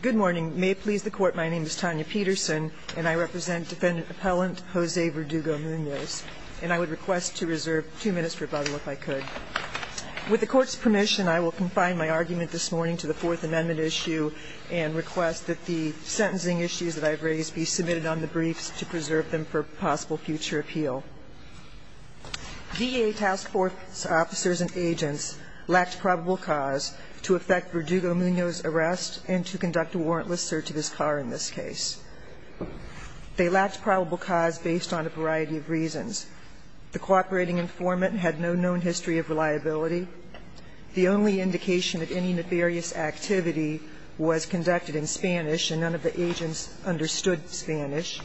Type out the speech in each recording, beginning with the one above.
Good morning. May it please the Court, my name is Tanya Peterson and I represent defendant-appellant Jose Verdugo-Munoz. And I would request to reserve two minutes for rebuttal if I could. With the Court's permission, I will confine my argument this morning to the Fourth Amendment issue and request that the sentencing issues that I've raised be submitted on the briefs to preserve them for possible future appeal. VA task force officers and agents lacked probable cause to effect Verdugo-Munoz's arrest and to conduct a warrantless search of his car in this case. They lacked probable cause based on a variety of reasons. The cooperating informant had no known history of reliability. The only indication of any nefarious activity was conducted in Spanish, and none of the agents understood Spanish.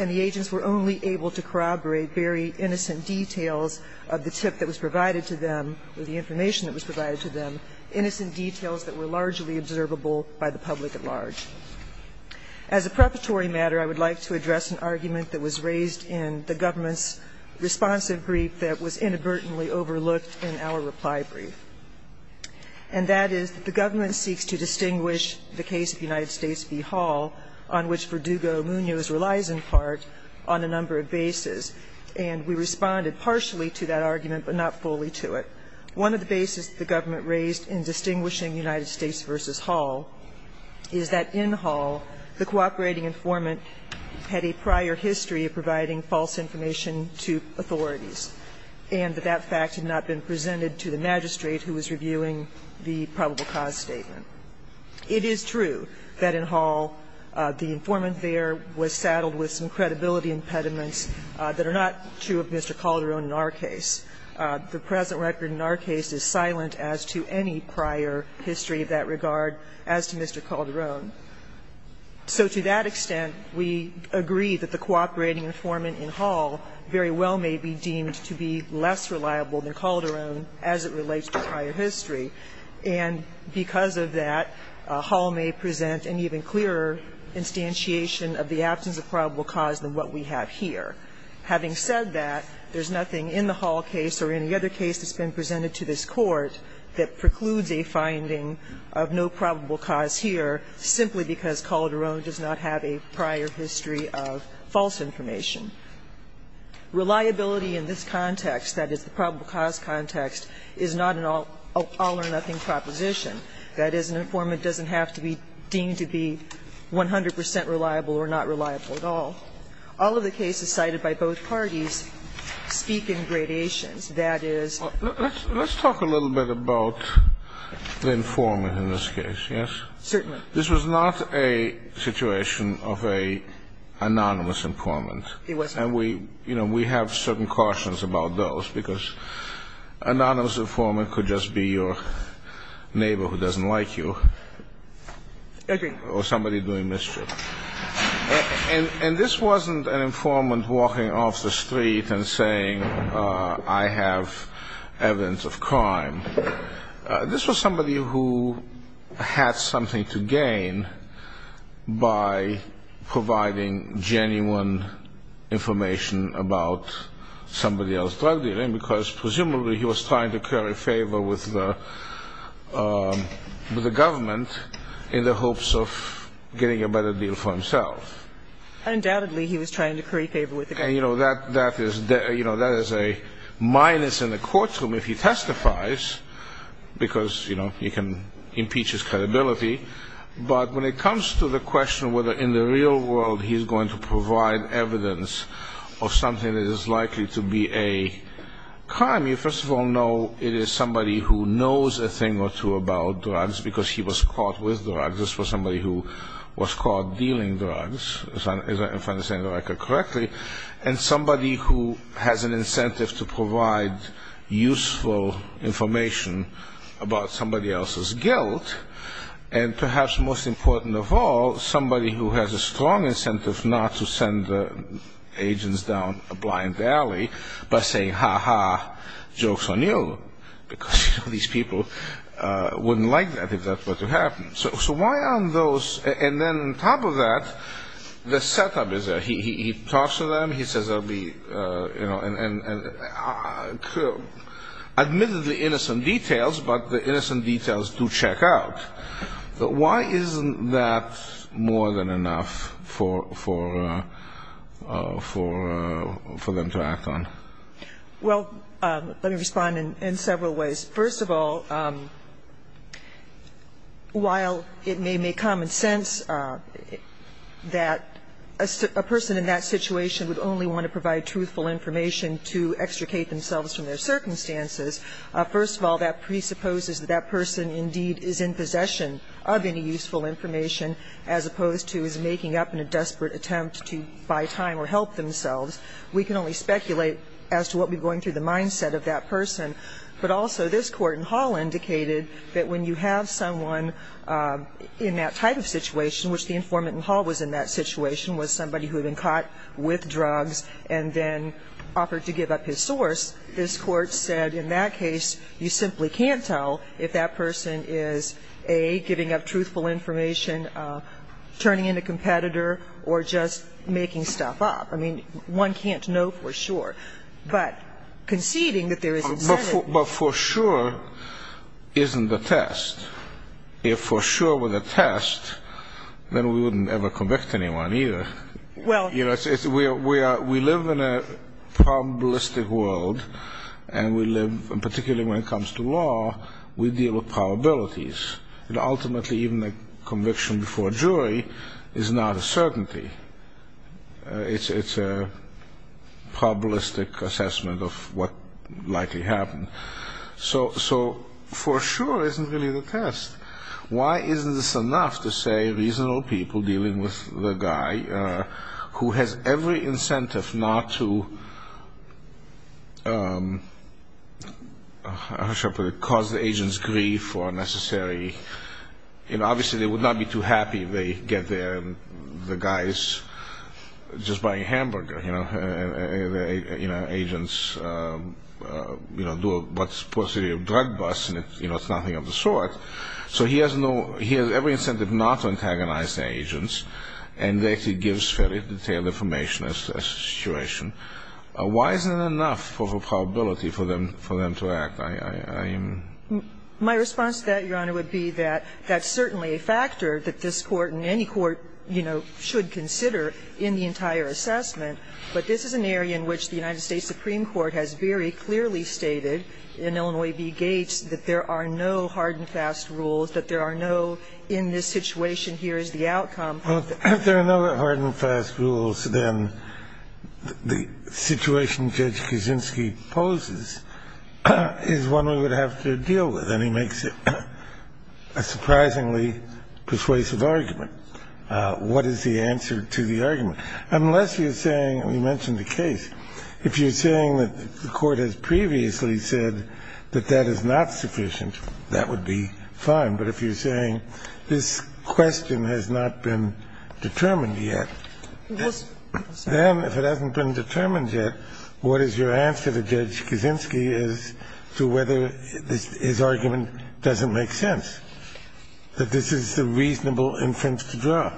And the agents were only able to corroborate very innocent details of the tip that was provided to them or the information that was provided to them, innocent details that were largely observable by the public at large. As a preparatory matter, I would like to address an argument that was raised in the government's responsive brief that was inadvertently overlooked in our reply brief. And that is that the government seeks to distinguish the case of United States v. Hall on which Verdugo-Munoz relies in part on a number of bases. And we responded partially to that argument, but not fully to it. One of the bases the government raised in distinguishing United States v. Hall is that in Hall the cooperating informant had a prior history of providing false information to authorities and that that fact had not been presented to the magistrate who was reviewing the probable cause statement. It is true that in Hall the informant there was saddled with some credibility impediments that are not true of Mr. Calderon in our case. The present record in our case is silent as to any prior history of that regard as to Mr. Calderon. So to that extent, we agree that the cooperating informant in Hall very well may be deemed to be less reliable than Calderon as it relates to prior history. And because of that, Hall may present an even clearer instantiation of the absence of probable cause than what we have here. Having said that, there's nothing in the Hall case or any other case that's been presented to this Court that precludes a finding of no probable cause here simply because Calderon does not have a prior history of false information. Reliability in this context, that is, the probable cause context, is not an all-or-nothing proposition, that is, an informant doesn't have to be deemed to be 100 percent reliable or not reliable at all. All of the cases cited by both parties speak in gradations, that is. Let's talk a little bit about the informant in this case, yes? Certainly. This was not a situation of an anonymous informant. It wasn't. And we, you know, we have certain cautions about those, because an anonymous informant could just be your neighbor who doesn't like you or somebody doing mischief. And this wasn't an informant walking off the street and saying, I have evidence of crime. This was somebody who had something to gain by providing genuine information about somebody else's drug dealing, because presumably he was trying to curry favor with the government in the hopes of getting a better deal for himself. Undoubtedly he was trying to curry favor with the government. And, you know, that is a minus in the courtroom if he testifies, because, you know, he can impeach his credibility. But when it comes to the question whether in the real world he's going to provide evidence of something that is likely to be a crime, you first of all know it is somebody who knows a thing or two about drugs, because he was caught with drugs. This was somebody who was caught dealing drugs, if I understand the record correctly, and somebody who has an incentive to provide useful information about somebody else's guilt. And perhaps most important of all, somebody who has a strong incentive not to send agents down a blind alley by saying, ha-ha, jokes on you, because these people wouldn't like that if that were to happen. So why aren't those – and then on top of that, the setup is there. He talks to them. He says there will be, you know, admittedly innocent details, but the innocent details do check out. Why isn't that more than enough for them to act on? Well, let me respond in several ways. First of all, while it may make common sense that a person in that situation would only want to provide truthful information to extricate themselves from their guilt, we can only speculate as to what would be going through the mind-set of that person, but also this Court in Hall indicated that when you have someone in that type of situation, which the informant in Hall was in that situation, was somebody who had been caught with drugs and then offered to give up his source, this Court said in that case you simply can't tell if that person is, A, giving up truthful information, turning in a competitor, or just making stuff up. I mean, one can't know for sure. But conceding that there is incentive to do that. But for sure isn't the test. If for sure were the test, then we wouldn't ever convict anyone either. Well – We live in a probabilistic world, and particularly when it comes to law, we deal with probabilities. And ultimately even a conviction before a jury is not a certainty. It's a probabilistic assessment of what likely happened. So for sure isn't really the test. Why isn't this enough to say reasonable people dealing with the guy who has every incentive not to, how shall I put it, cause the agent's grief or necessary – obviously they would not be too happy if they get there and the guy is just buying a hamburger, and the agent's doing what's supposed to be a drug bust, and it's nothing of the sort. So he has every incentive not to antagonize the agents, and that gives fairly detailed information as to the situation. Why isn't it enough of a probability for them to act? My response to that, Your Honor, would be that that's certainly a factor that this Court and any court should consider in the entire assessment. But this is an area in which the United States Supreme Court has very clearly stated in Illinois v. Gates that there are no hard-and-fast rules, that there are no in-this-situation-here-is-the-outcome. Well, if there are no hard-and-fast rules, then the situation Judge Kuczynski poses is one we would have to deal with, and he makes a surprisingly persuasive What is the answer to the argument? Unless you're saying, and you mentioned the case, if you're saying that the Court has previously said that that is not sufficient, that would be fine. But if you're saying this question has not been determined yet, then if it hasn't been determined yet, what is your answer to Judge Kuczynski as to whether his argument doesn't make sense, that this is the reasonable inference to draw?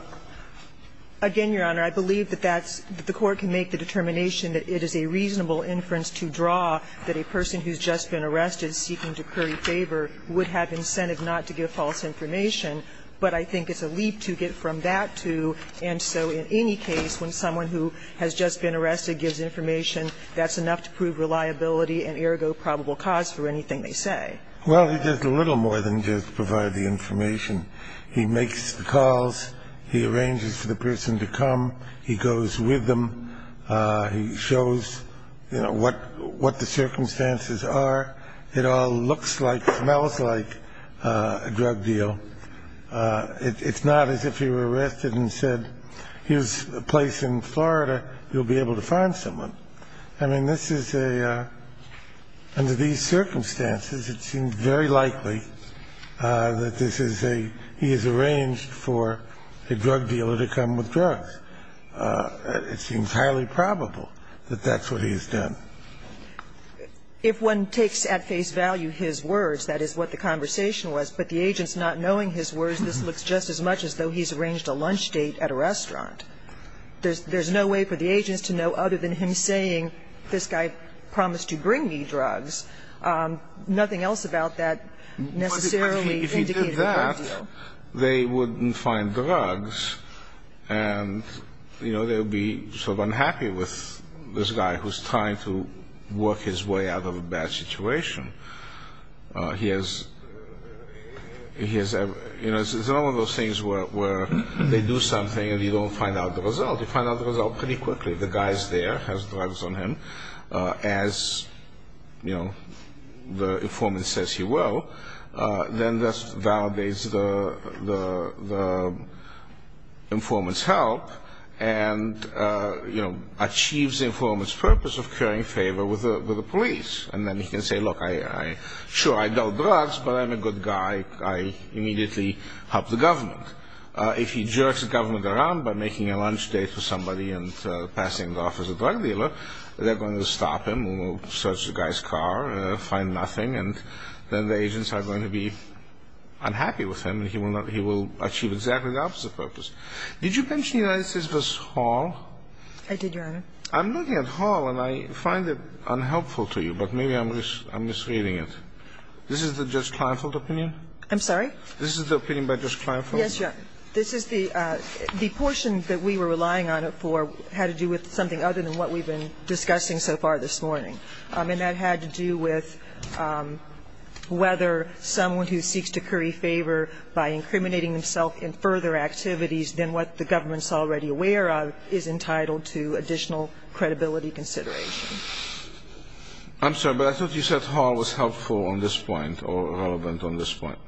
Again, Your Honor, I believe that that's the Court can make the determination that it is a reasonable inference to draw that a person who's just been arrested seeking to curry favor would have incentive not to give false information. But I think it's a leap to get from that to, and so in any case, when someone who has just been arrested gives information, that's enough to prove reliability and ergo probable cause for anything they say. Well, he does a little more than just provide the information. He makes the calls. He arranges for the person to come. He goes with them. He shows, you know, what the circumstances are. It all looks like, smells like a drug deal. It's not as if he were arrested and said, here's a place in Florida. You'll be able to find someone. I mean, this is a under these circumstances, it seems very likely that this is a drug deal. It seems highly probable that that's what he has done. If one takes at face value his words, that is what the conversation was, but the agent's not knowing his words, this looks just as much as though he's arranged a lunch date at a restaurant. There's no way for the agents to know other than him saying, this guy promised to bring me drugs. Nothing else about that necessarily indicates that. They wouldn't find drugs and, you know, they would be sort of unhappy with this guy who's trying to work his way out of a bad situation. He has, you know, it's one of those things where they do something and you don't find out the result. You find out the result pretty quickly. The guy's there, has drugs on him, as, you know, the informant says he will. Then this validates the informant's help and, you know, achieves the informant's purpose of carrying favor with the police. And then he can say, look, sure, I know drugs, but I'm a good guy. I immediately help the government. If he jerks the government around by making a lunch date for somebody and passing off as a drug dealer, they're going to stop him and search the guy's car and find nothing, and then the agents are going to be unhappy with him and he will achieve exactly the opposite purpose. Did you mention United States v. Hall? I did, Your Honor. I'm looking at Hall and I find it unhelpful to you, but maybe I'm misreading it. This is the Judge Kleinfeld opinion? I'm sorry? This is the opinion by Judge Kleinfeld? Yes, Your Honor. This is the portion that we were relying on it for had to do with something other than what we've been discussing so far this morning. And that had to do with whether someone who seeks to curry favor by incriminating themselves in further activities than what the government's already aware of is entitled to additional credibility consideration. I'm sorry, but I thought you said Hall was helpful on this point or relevant on this point.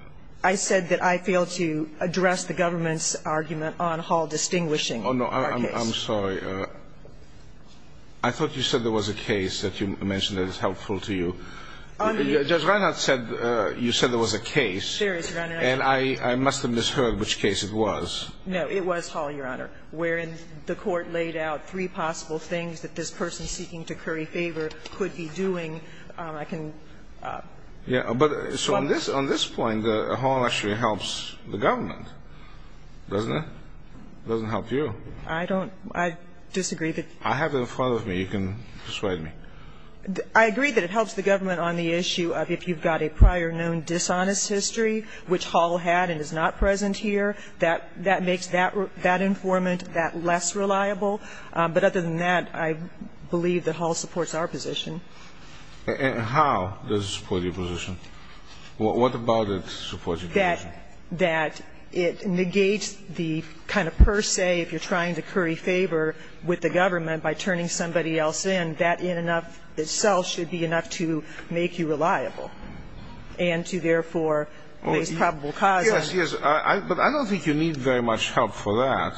I said that I failed to address the government's argument on Hall distinguishing our case. Oh, no. I'm sorry. I thought you said there was a case that you mentioned that is helpful to you. Judge Reinhart said you said there was a case. There is, Your Honor. And I must have misheard which case it was. No. It was Hall, Your Honor. Wherein the court laid out three possible things that this person seeking to curry favor could be doing. I can... Yeah. But on this point, Hall actually helps the government, doesn't it? It doesn't help you. I don't. I disagree that... I have it in front of me. You can persuade me. I agree that it helps the government on the issue of if you've got a prior known dishonest history, which Hall had and is not present here, that makes that informant that less reliable. But other than that, I believe that Hall supports our position. And how does it support your position? What about it supports your position? That it negates the kind of per se, if you're trying to curry favor with the government by turning somebody else in, that in and of itself should be enough to make you reliable and to, therefore, raise probable causes. Yes, yes. But I don't think you need very much help for that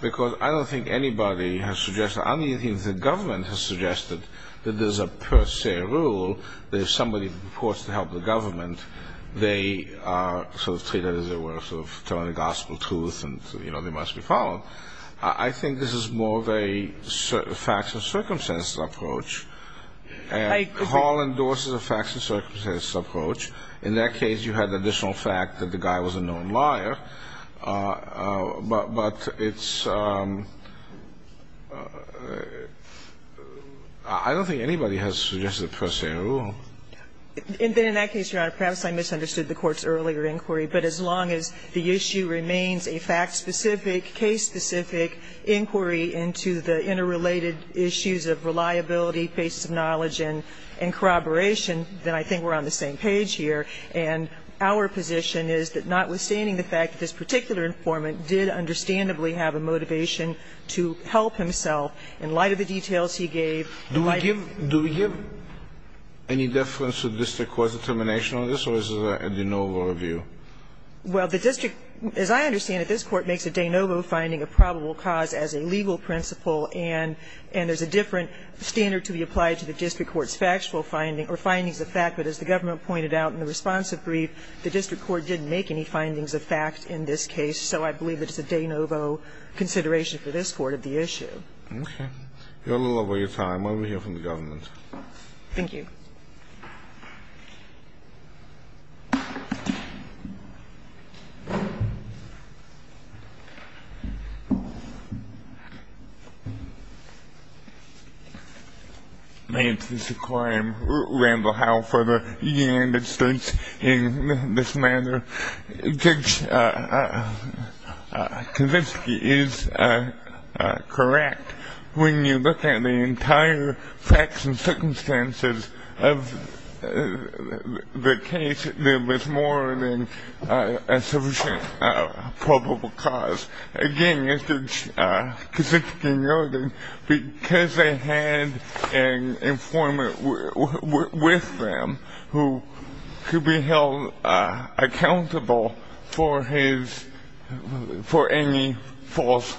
because I don't think anybody has suggested, I don't think the government has suggested that there's a per se rule that if somebody reports to help the government, they are sort of treated as they were sort of telling the gospel truth and, you know, they must be followed. I think this is more of a facts and circumstances approach. And Hall endorses a facts and circumstances approach. In that case, you had the additional fact that the guy was a known liar. But it's ‑‑ I don't think anybody has suggested a per se rule. In that case, Your Honor, perhaps I misunderstood the Court's earlier inquiry. But as long as the issue remains a fact-specific, case-specific inquiry into the interrelated issues of reliability, basis of knowledge, and corroboration, then I think we're on the same page here. And our position is that notwithstanding the fact that this particular informant did understandably have a motivation to help himself, in light of the details he gave ‑‑ Do we give ‑‑ do we give any deference to the district court's determination on this, or is this a de novo review? Well, the district, as I understand it, this Court makes a de novo finding of probable cause as a legal principle, and there's a different standard to be applied to the district court's factual finding, or findings of fact, but as the government pointed out in the responsive brief, the district court didn't make any findings of fact in this case, so I believe it's a de novo consideration for this Court of the issue. Okay. You're a little over your time. Why don't we hear from the government? Thank you. May it please the Court, I am Randall Howell for the United States in this matter. Judge Kavinsky is correct. When you look at the entire facts and circumstances of the case, there was more than a sufficient probable cause. Again, as Judge Kavinsky noted, because they had an informant with them who could be held accountable for any false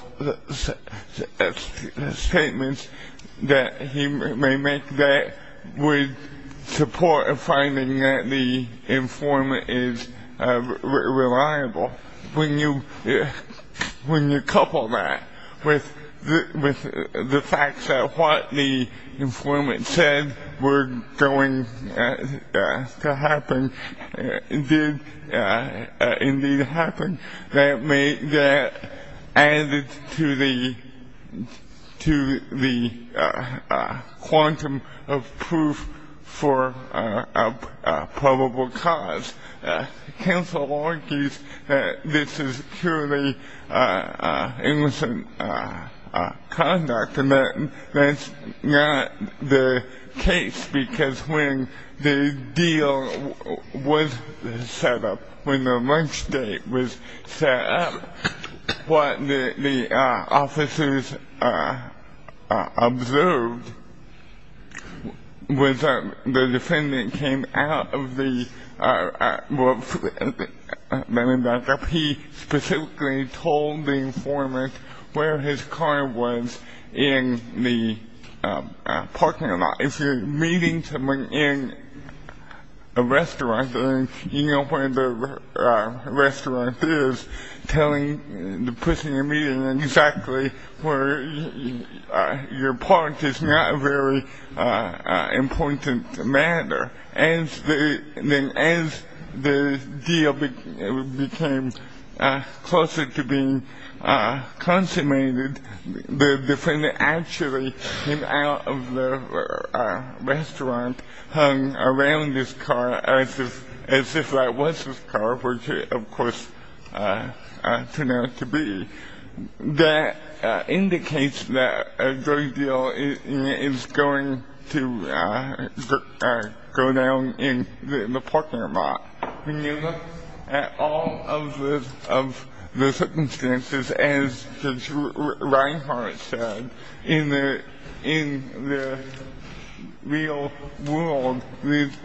statements that he may make that would support a finding that the informant is reliable. When you couple that with the fact that what the informant said were going to happen did indeed happen, that added to the quantum of proof for a probable cause. Counsel argues that this is purely innocent conduct, and that's not the case because when the deal was set up, when the lunch date was set up, what the officers observed was that the defendant came out of the, he specifically told the informant where his car was in the parking lot. If you're meeting someone in a restaurant, you know where the restaurant is, telling the person you're meeting exactly where your park is not a very important matter. As the deal became closer to being consummated, the defendant actually came out of the restaurant, hung around his car as if that was his car, which it of course turned out to be. That indicates that the deal is going to go down in the parking lot. When you look at all of the circumstances, as Judge Reinhart said, in the real world,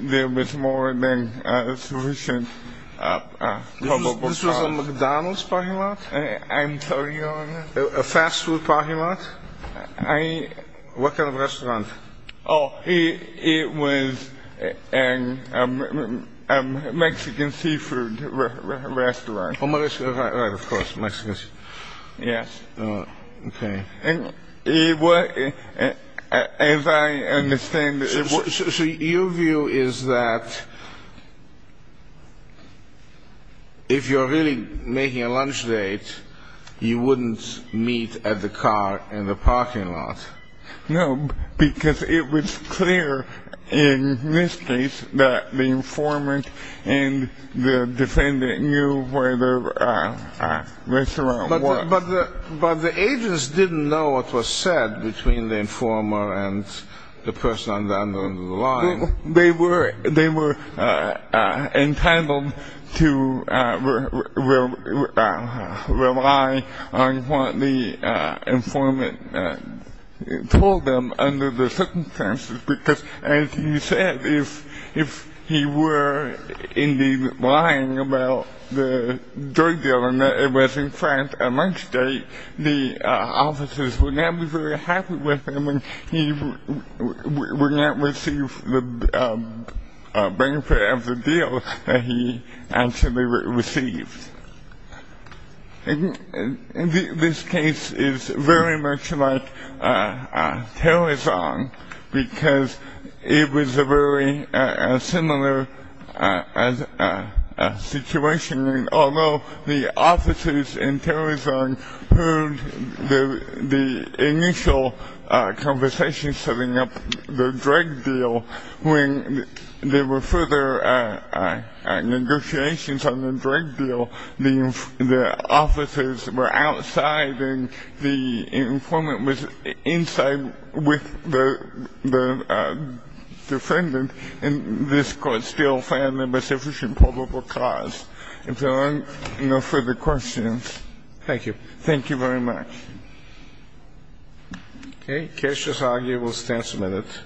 there was more than a sufficient probable cause. This was a McDonald's parking lot? I'm sorry, Your Honor. A fast food parking lot? I... What kind of restaurant? Oh, it was a Mexican seafood restaurant. Right, of course, Mexican seafood. Yes. Okay. As I understand it... So your view is that if you're really making a lunch date, you wouldn't meet at the car in the parking lot? No, because it was clear in this case that the informant and the defendant knew where the restaurant was. But the agents didn't know what was said between the informer and the person under the line. They were entitled to rely on what the informant told them under the circumstances, because as he said, if he were indeed lying about the drug deal and it was in fact a lunch date, the officers would not be very happy with him and he would not receive the benefit of the deal that he actually received. This case is very much like Tarazan, because it was a very similar situation. Although the officers in Tarazan heard the initial conversation setting up the drug deal, when there were further negotiations on the drug deal, the officers were outside and the informant was inside with the defendant, and this court still found there was sufficient probable cause. If there are no further questions... Thank you. Thank you very much. Okay. Case is argued. We'll stand some minutes.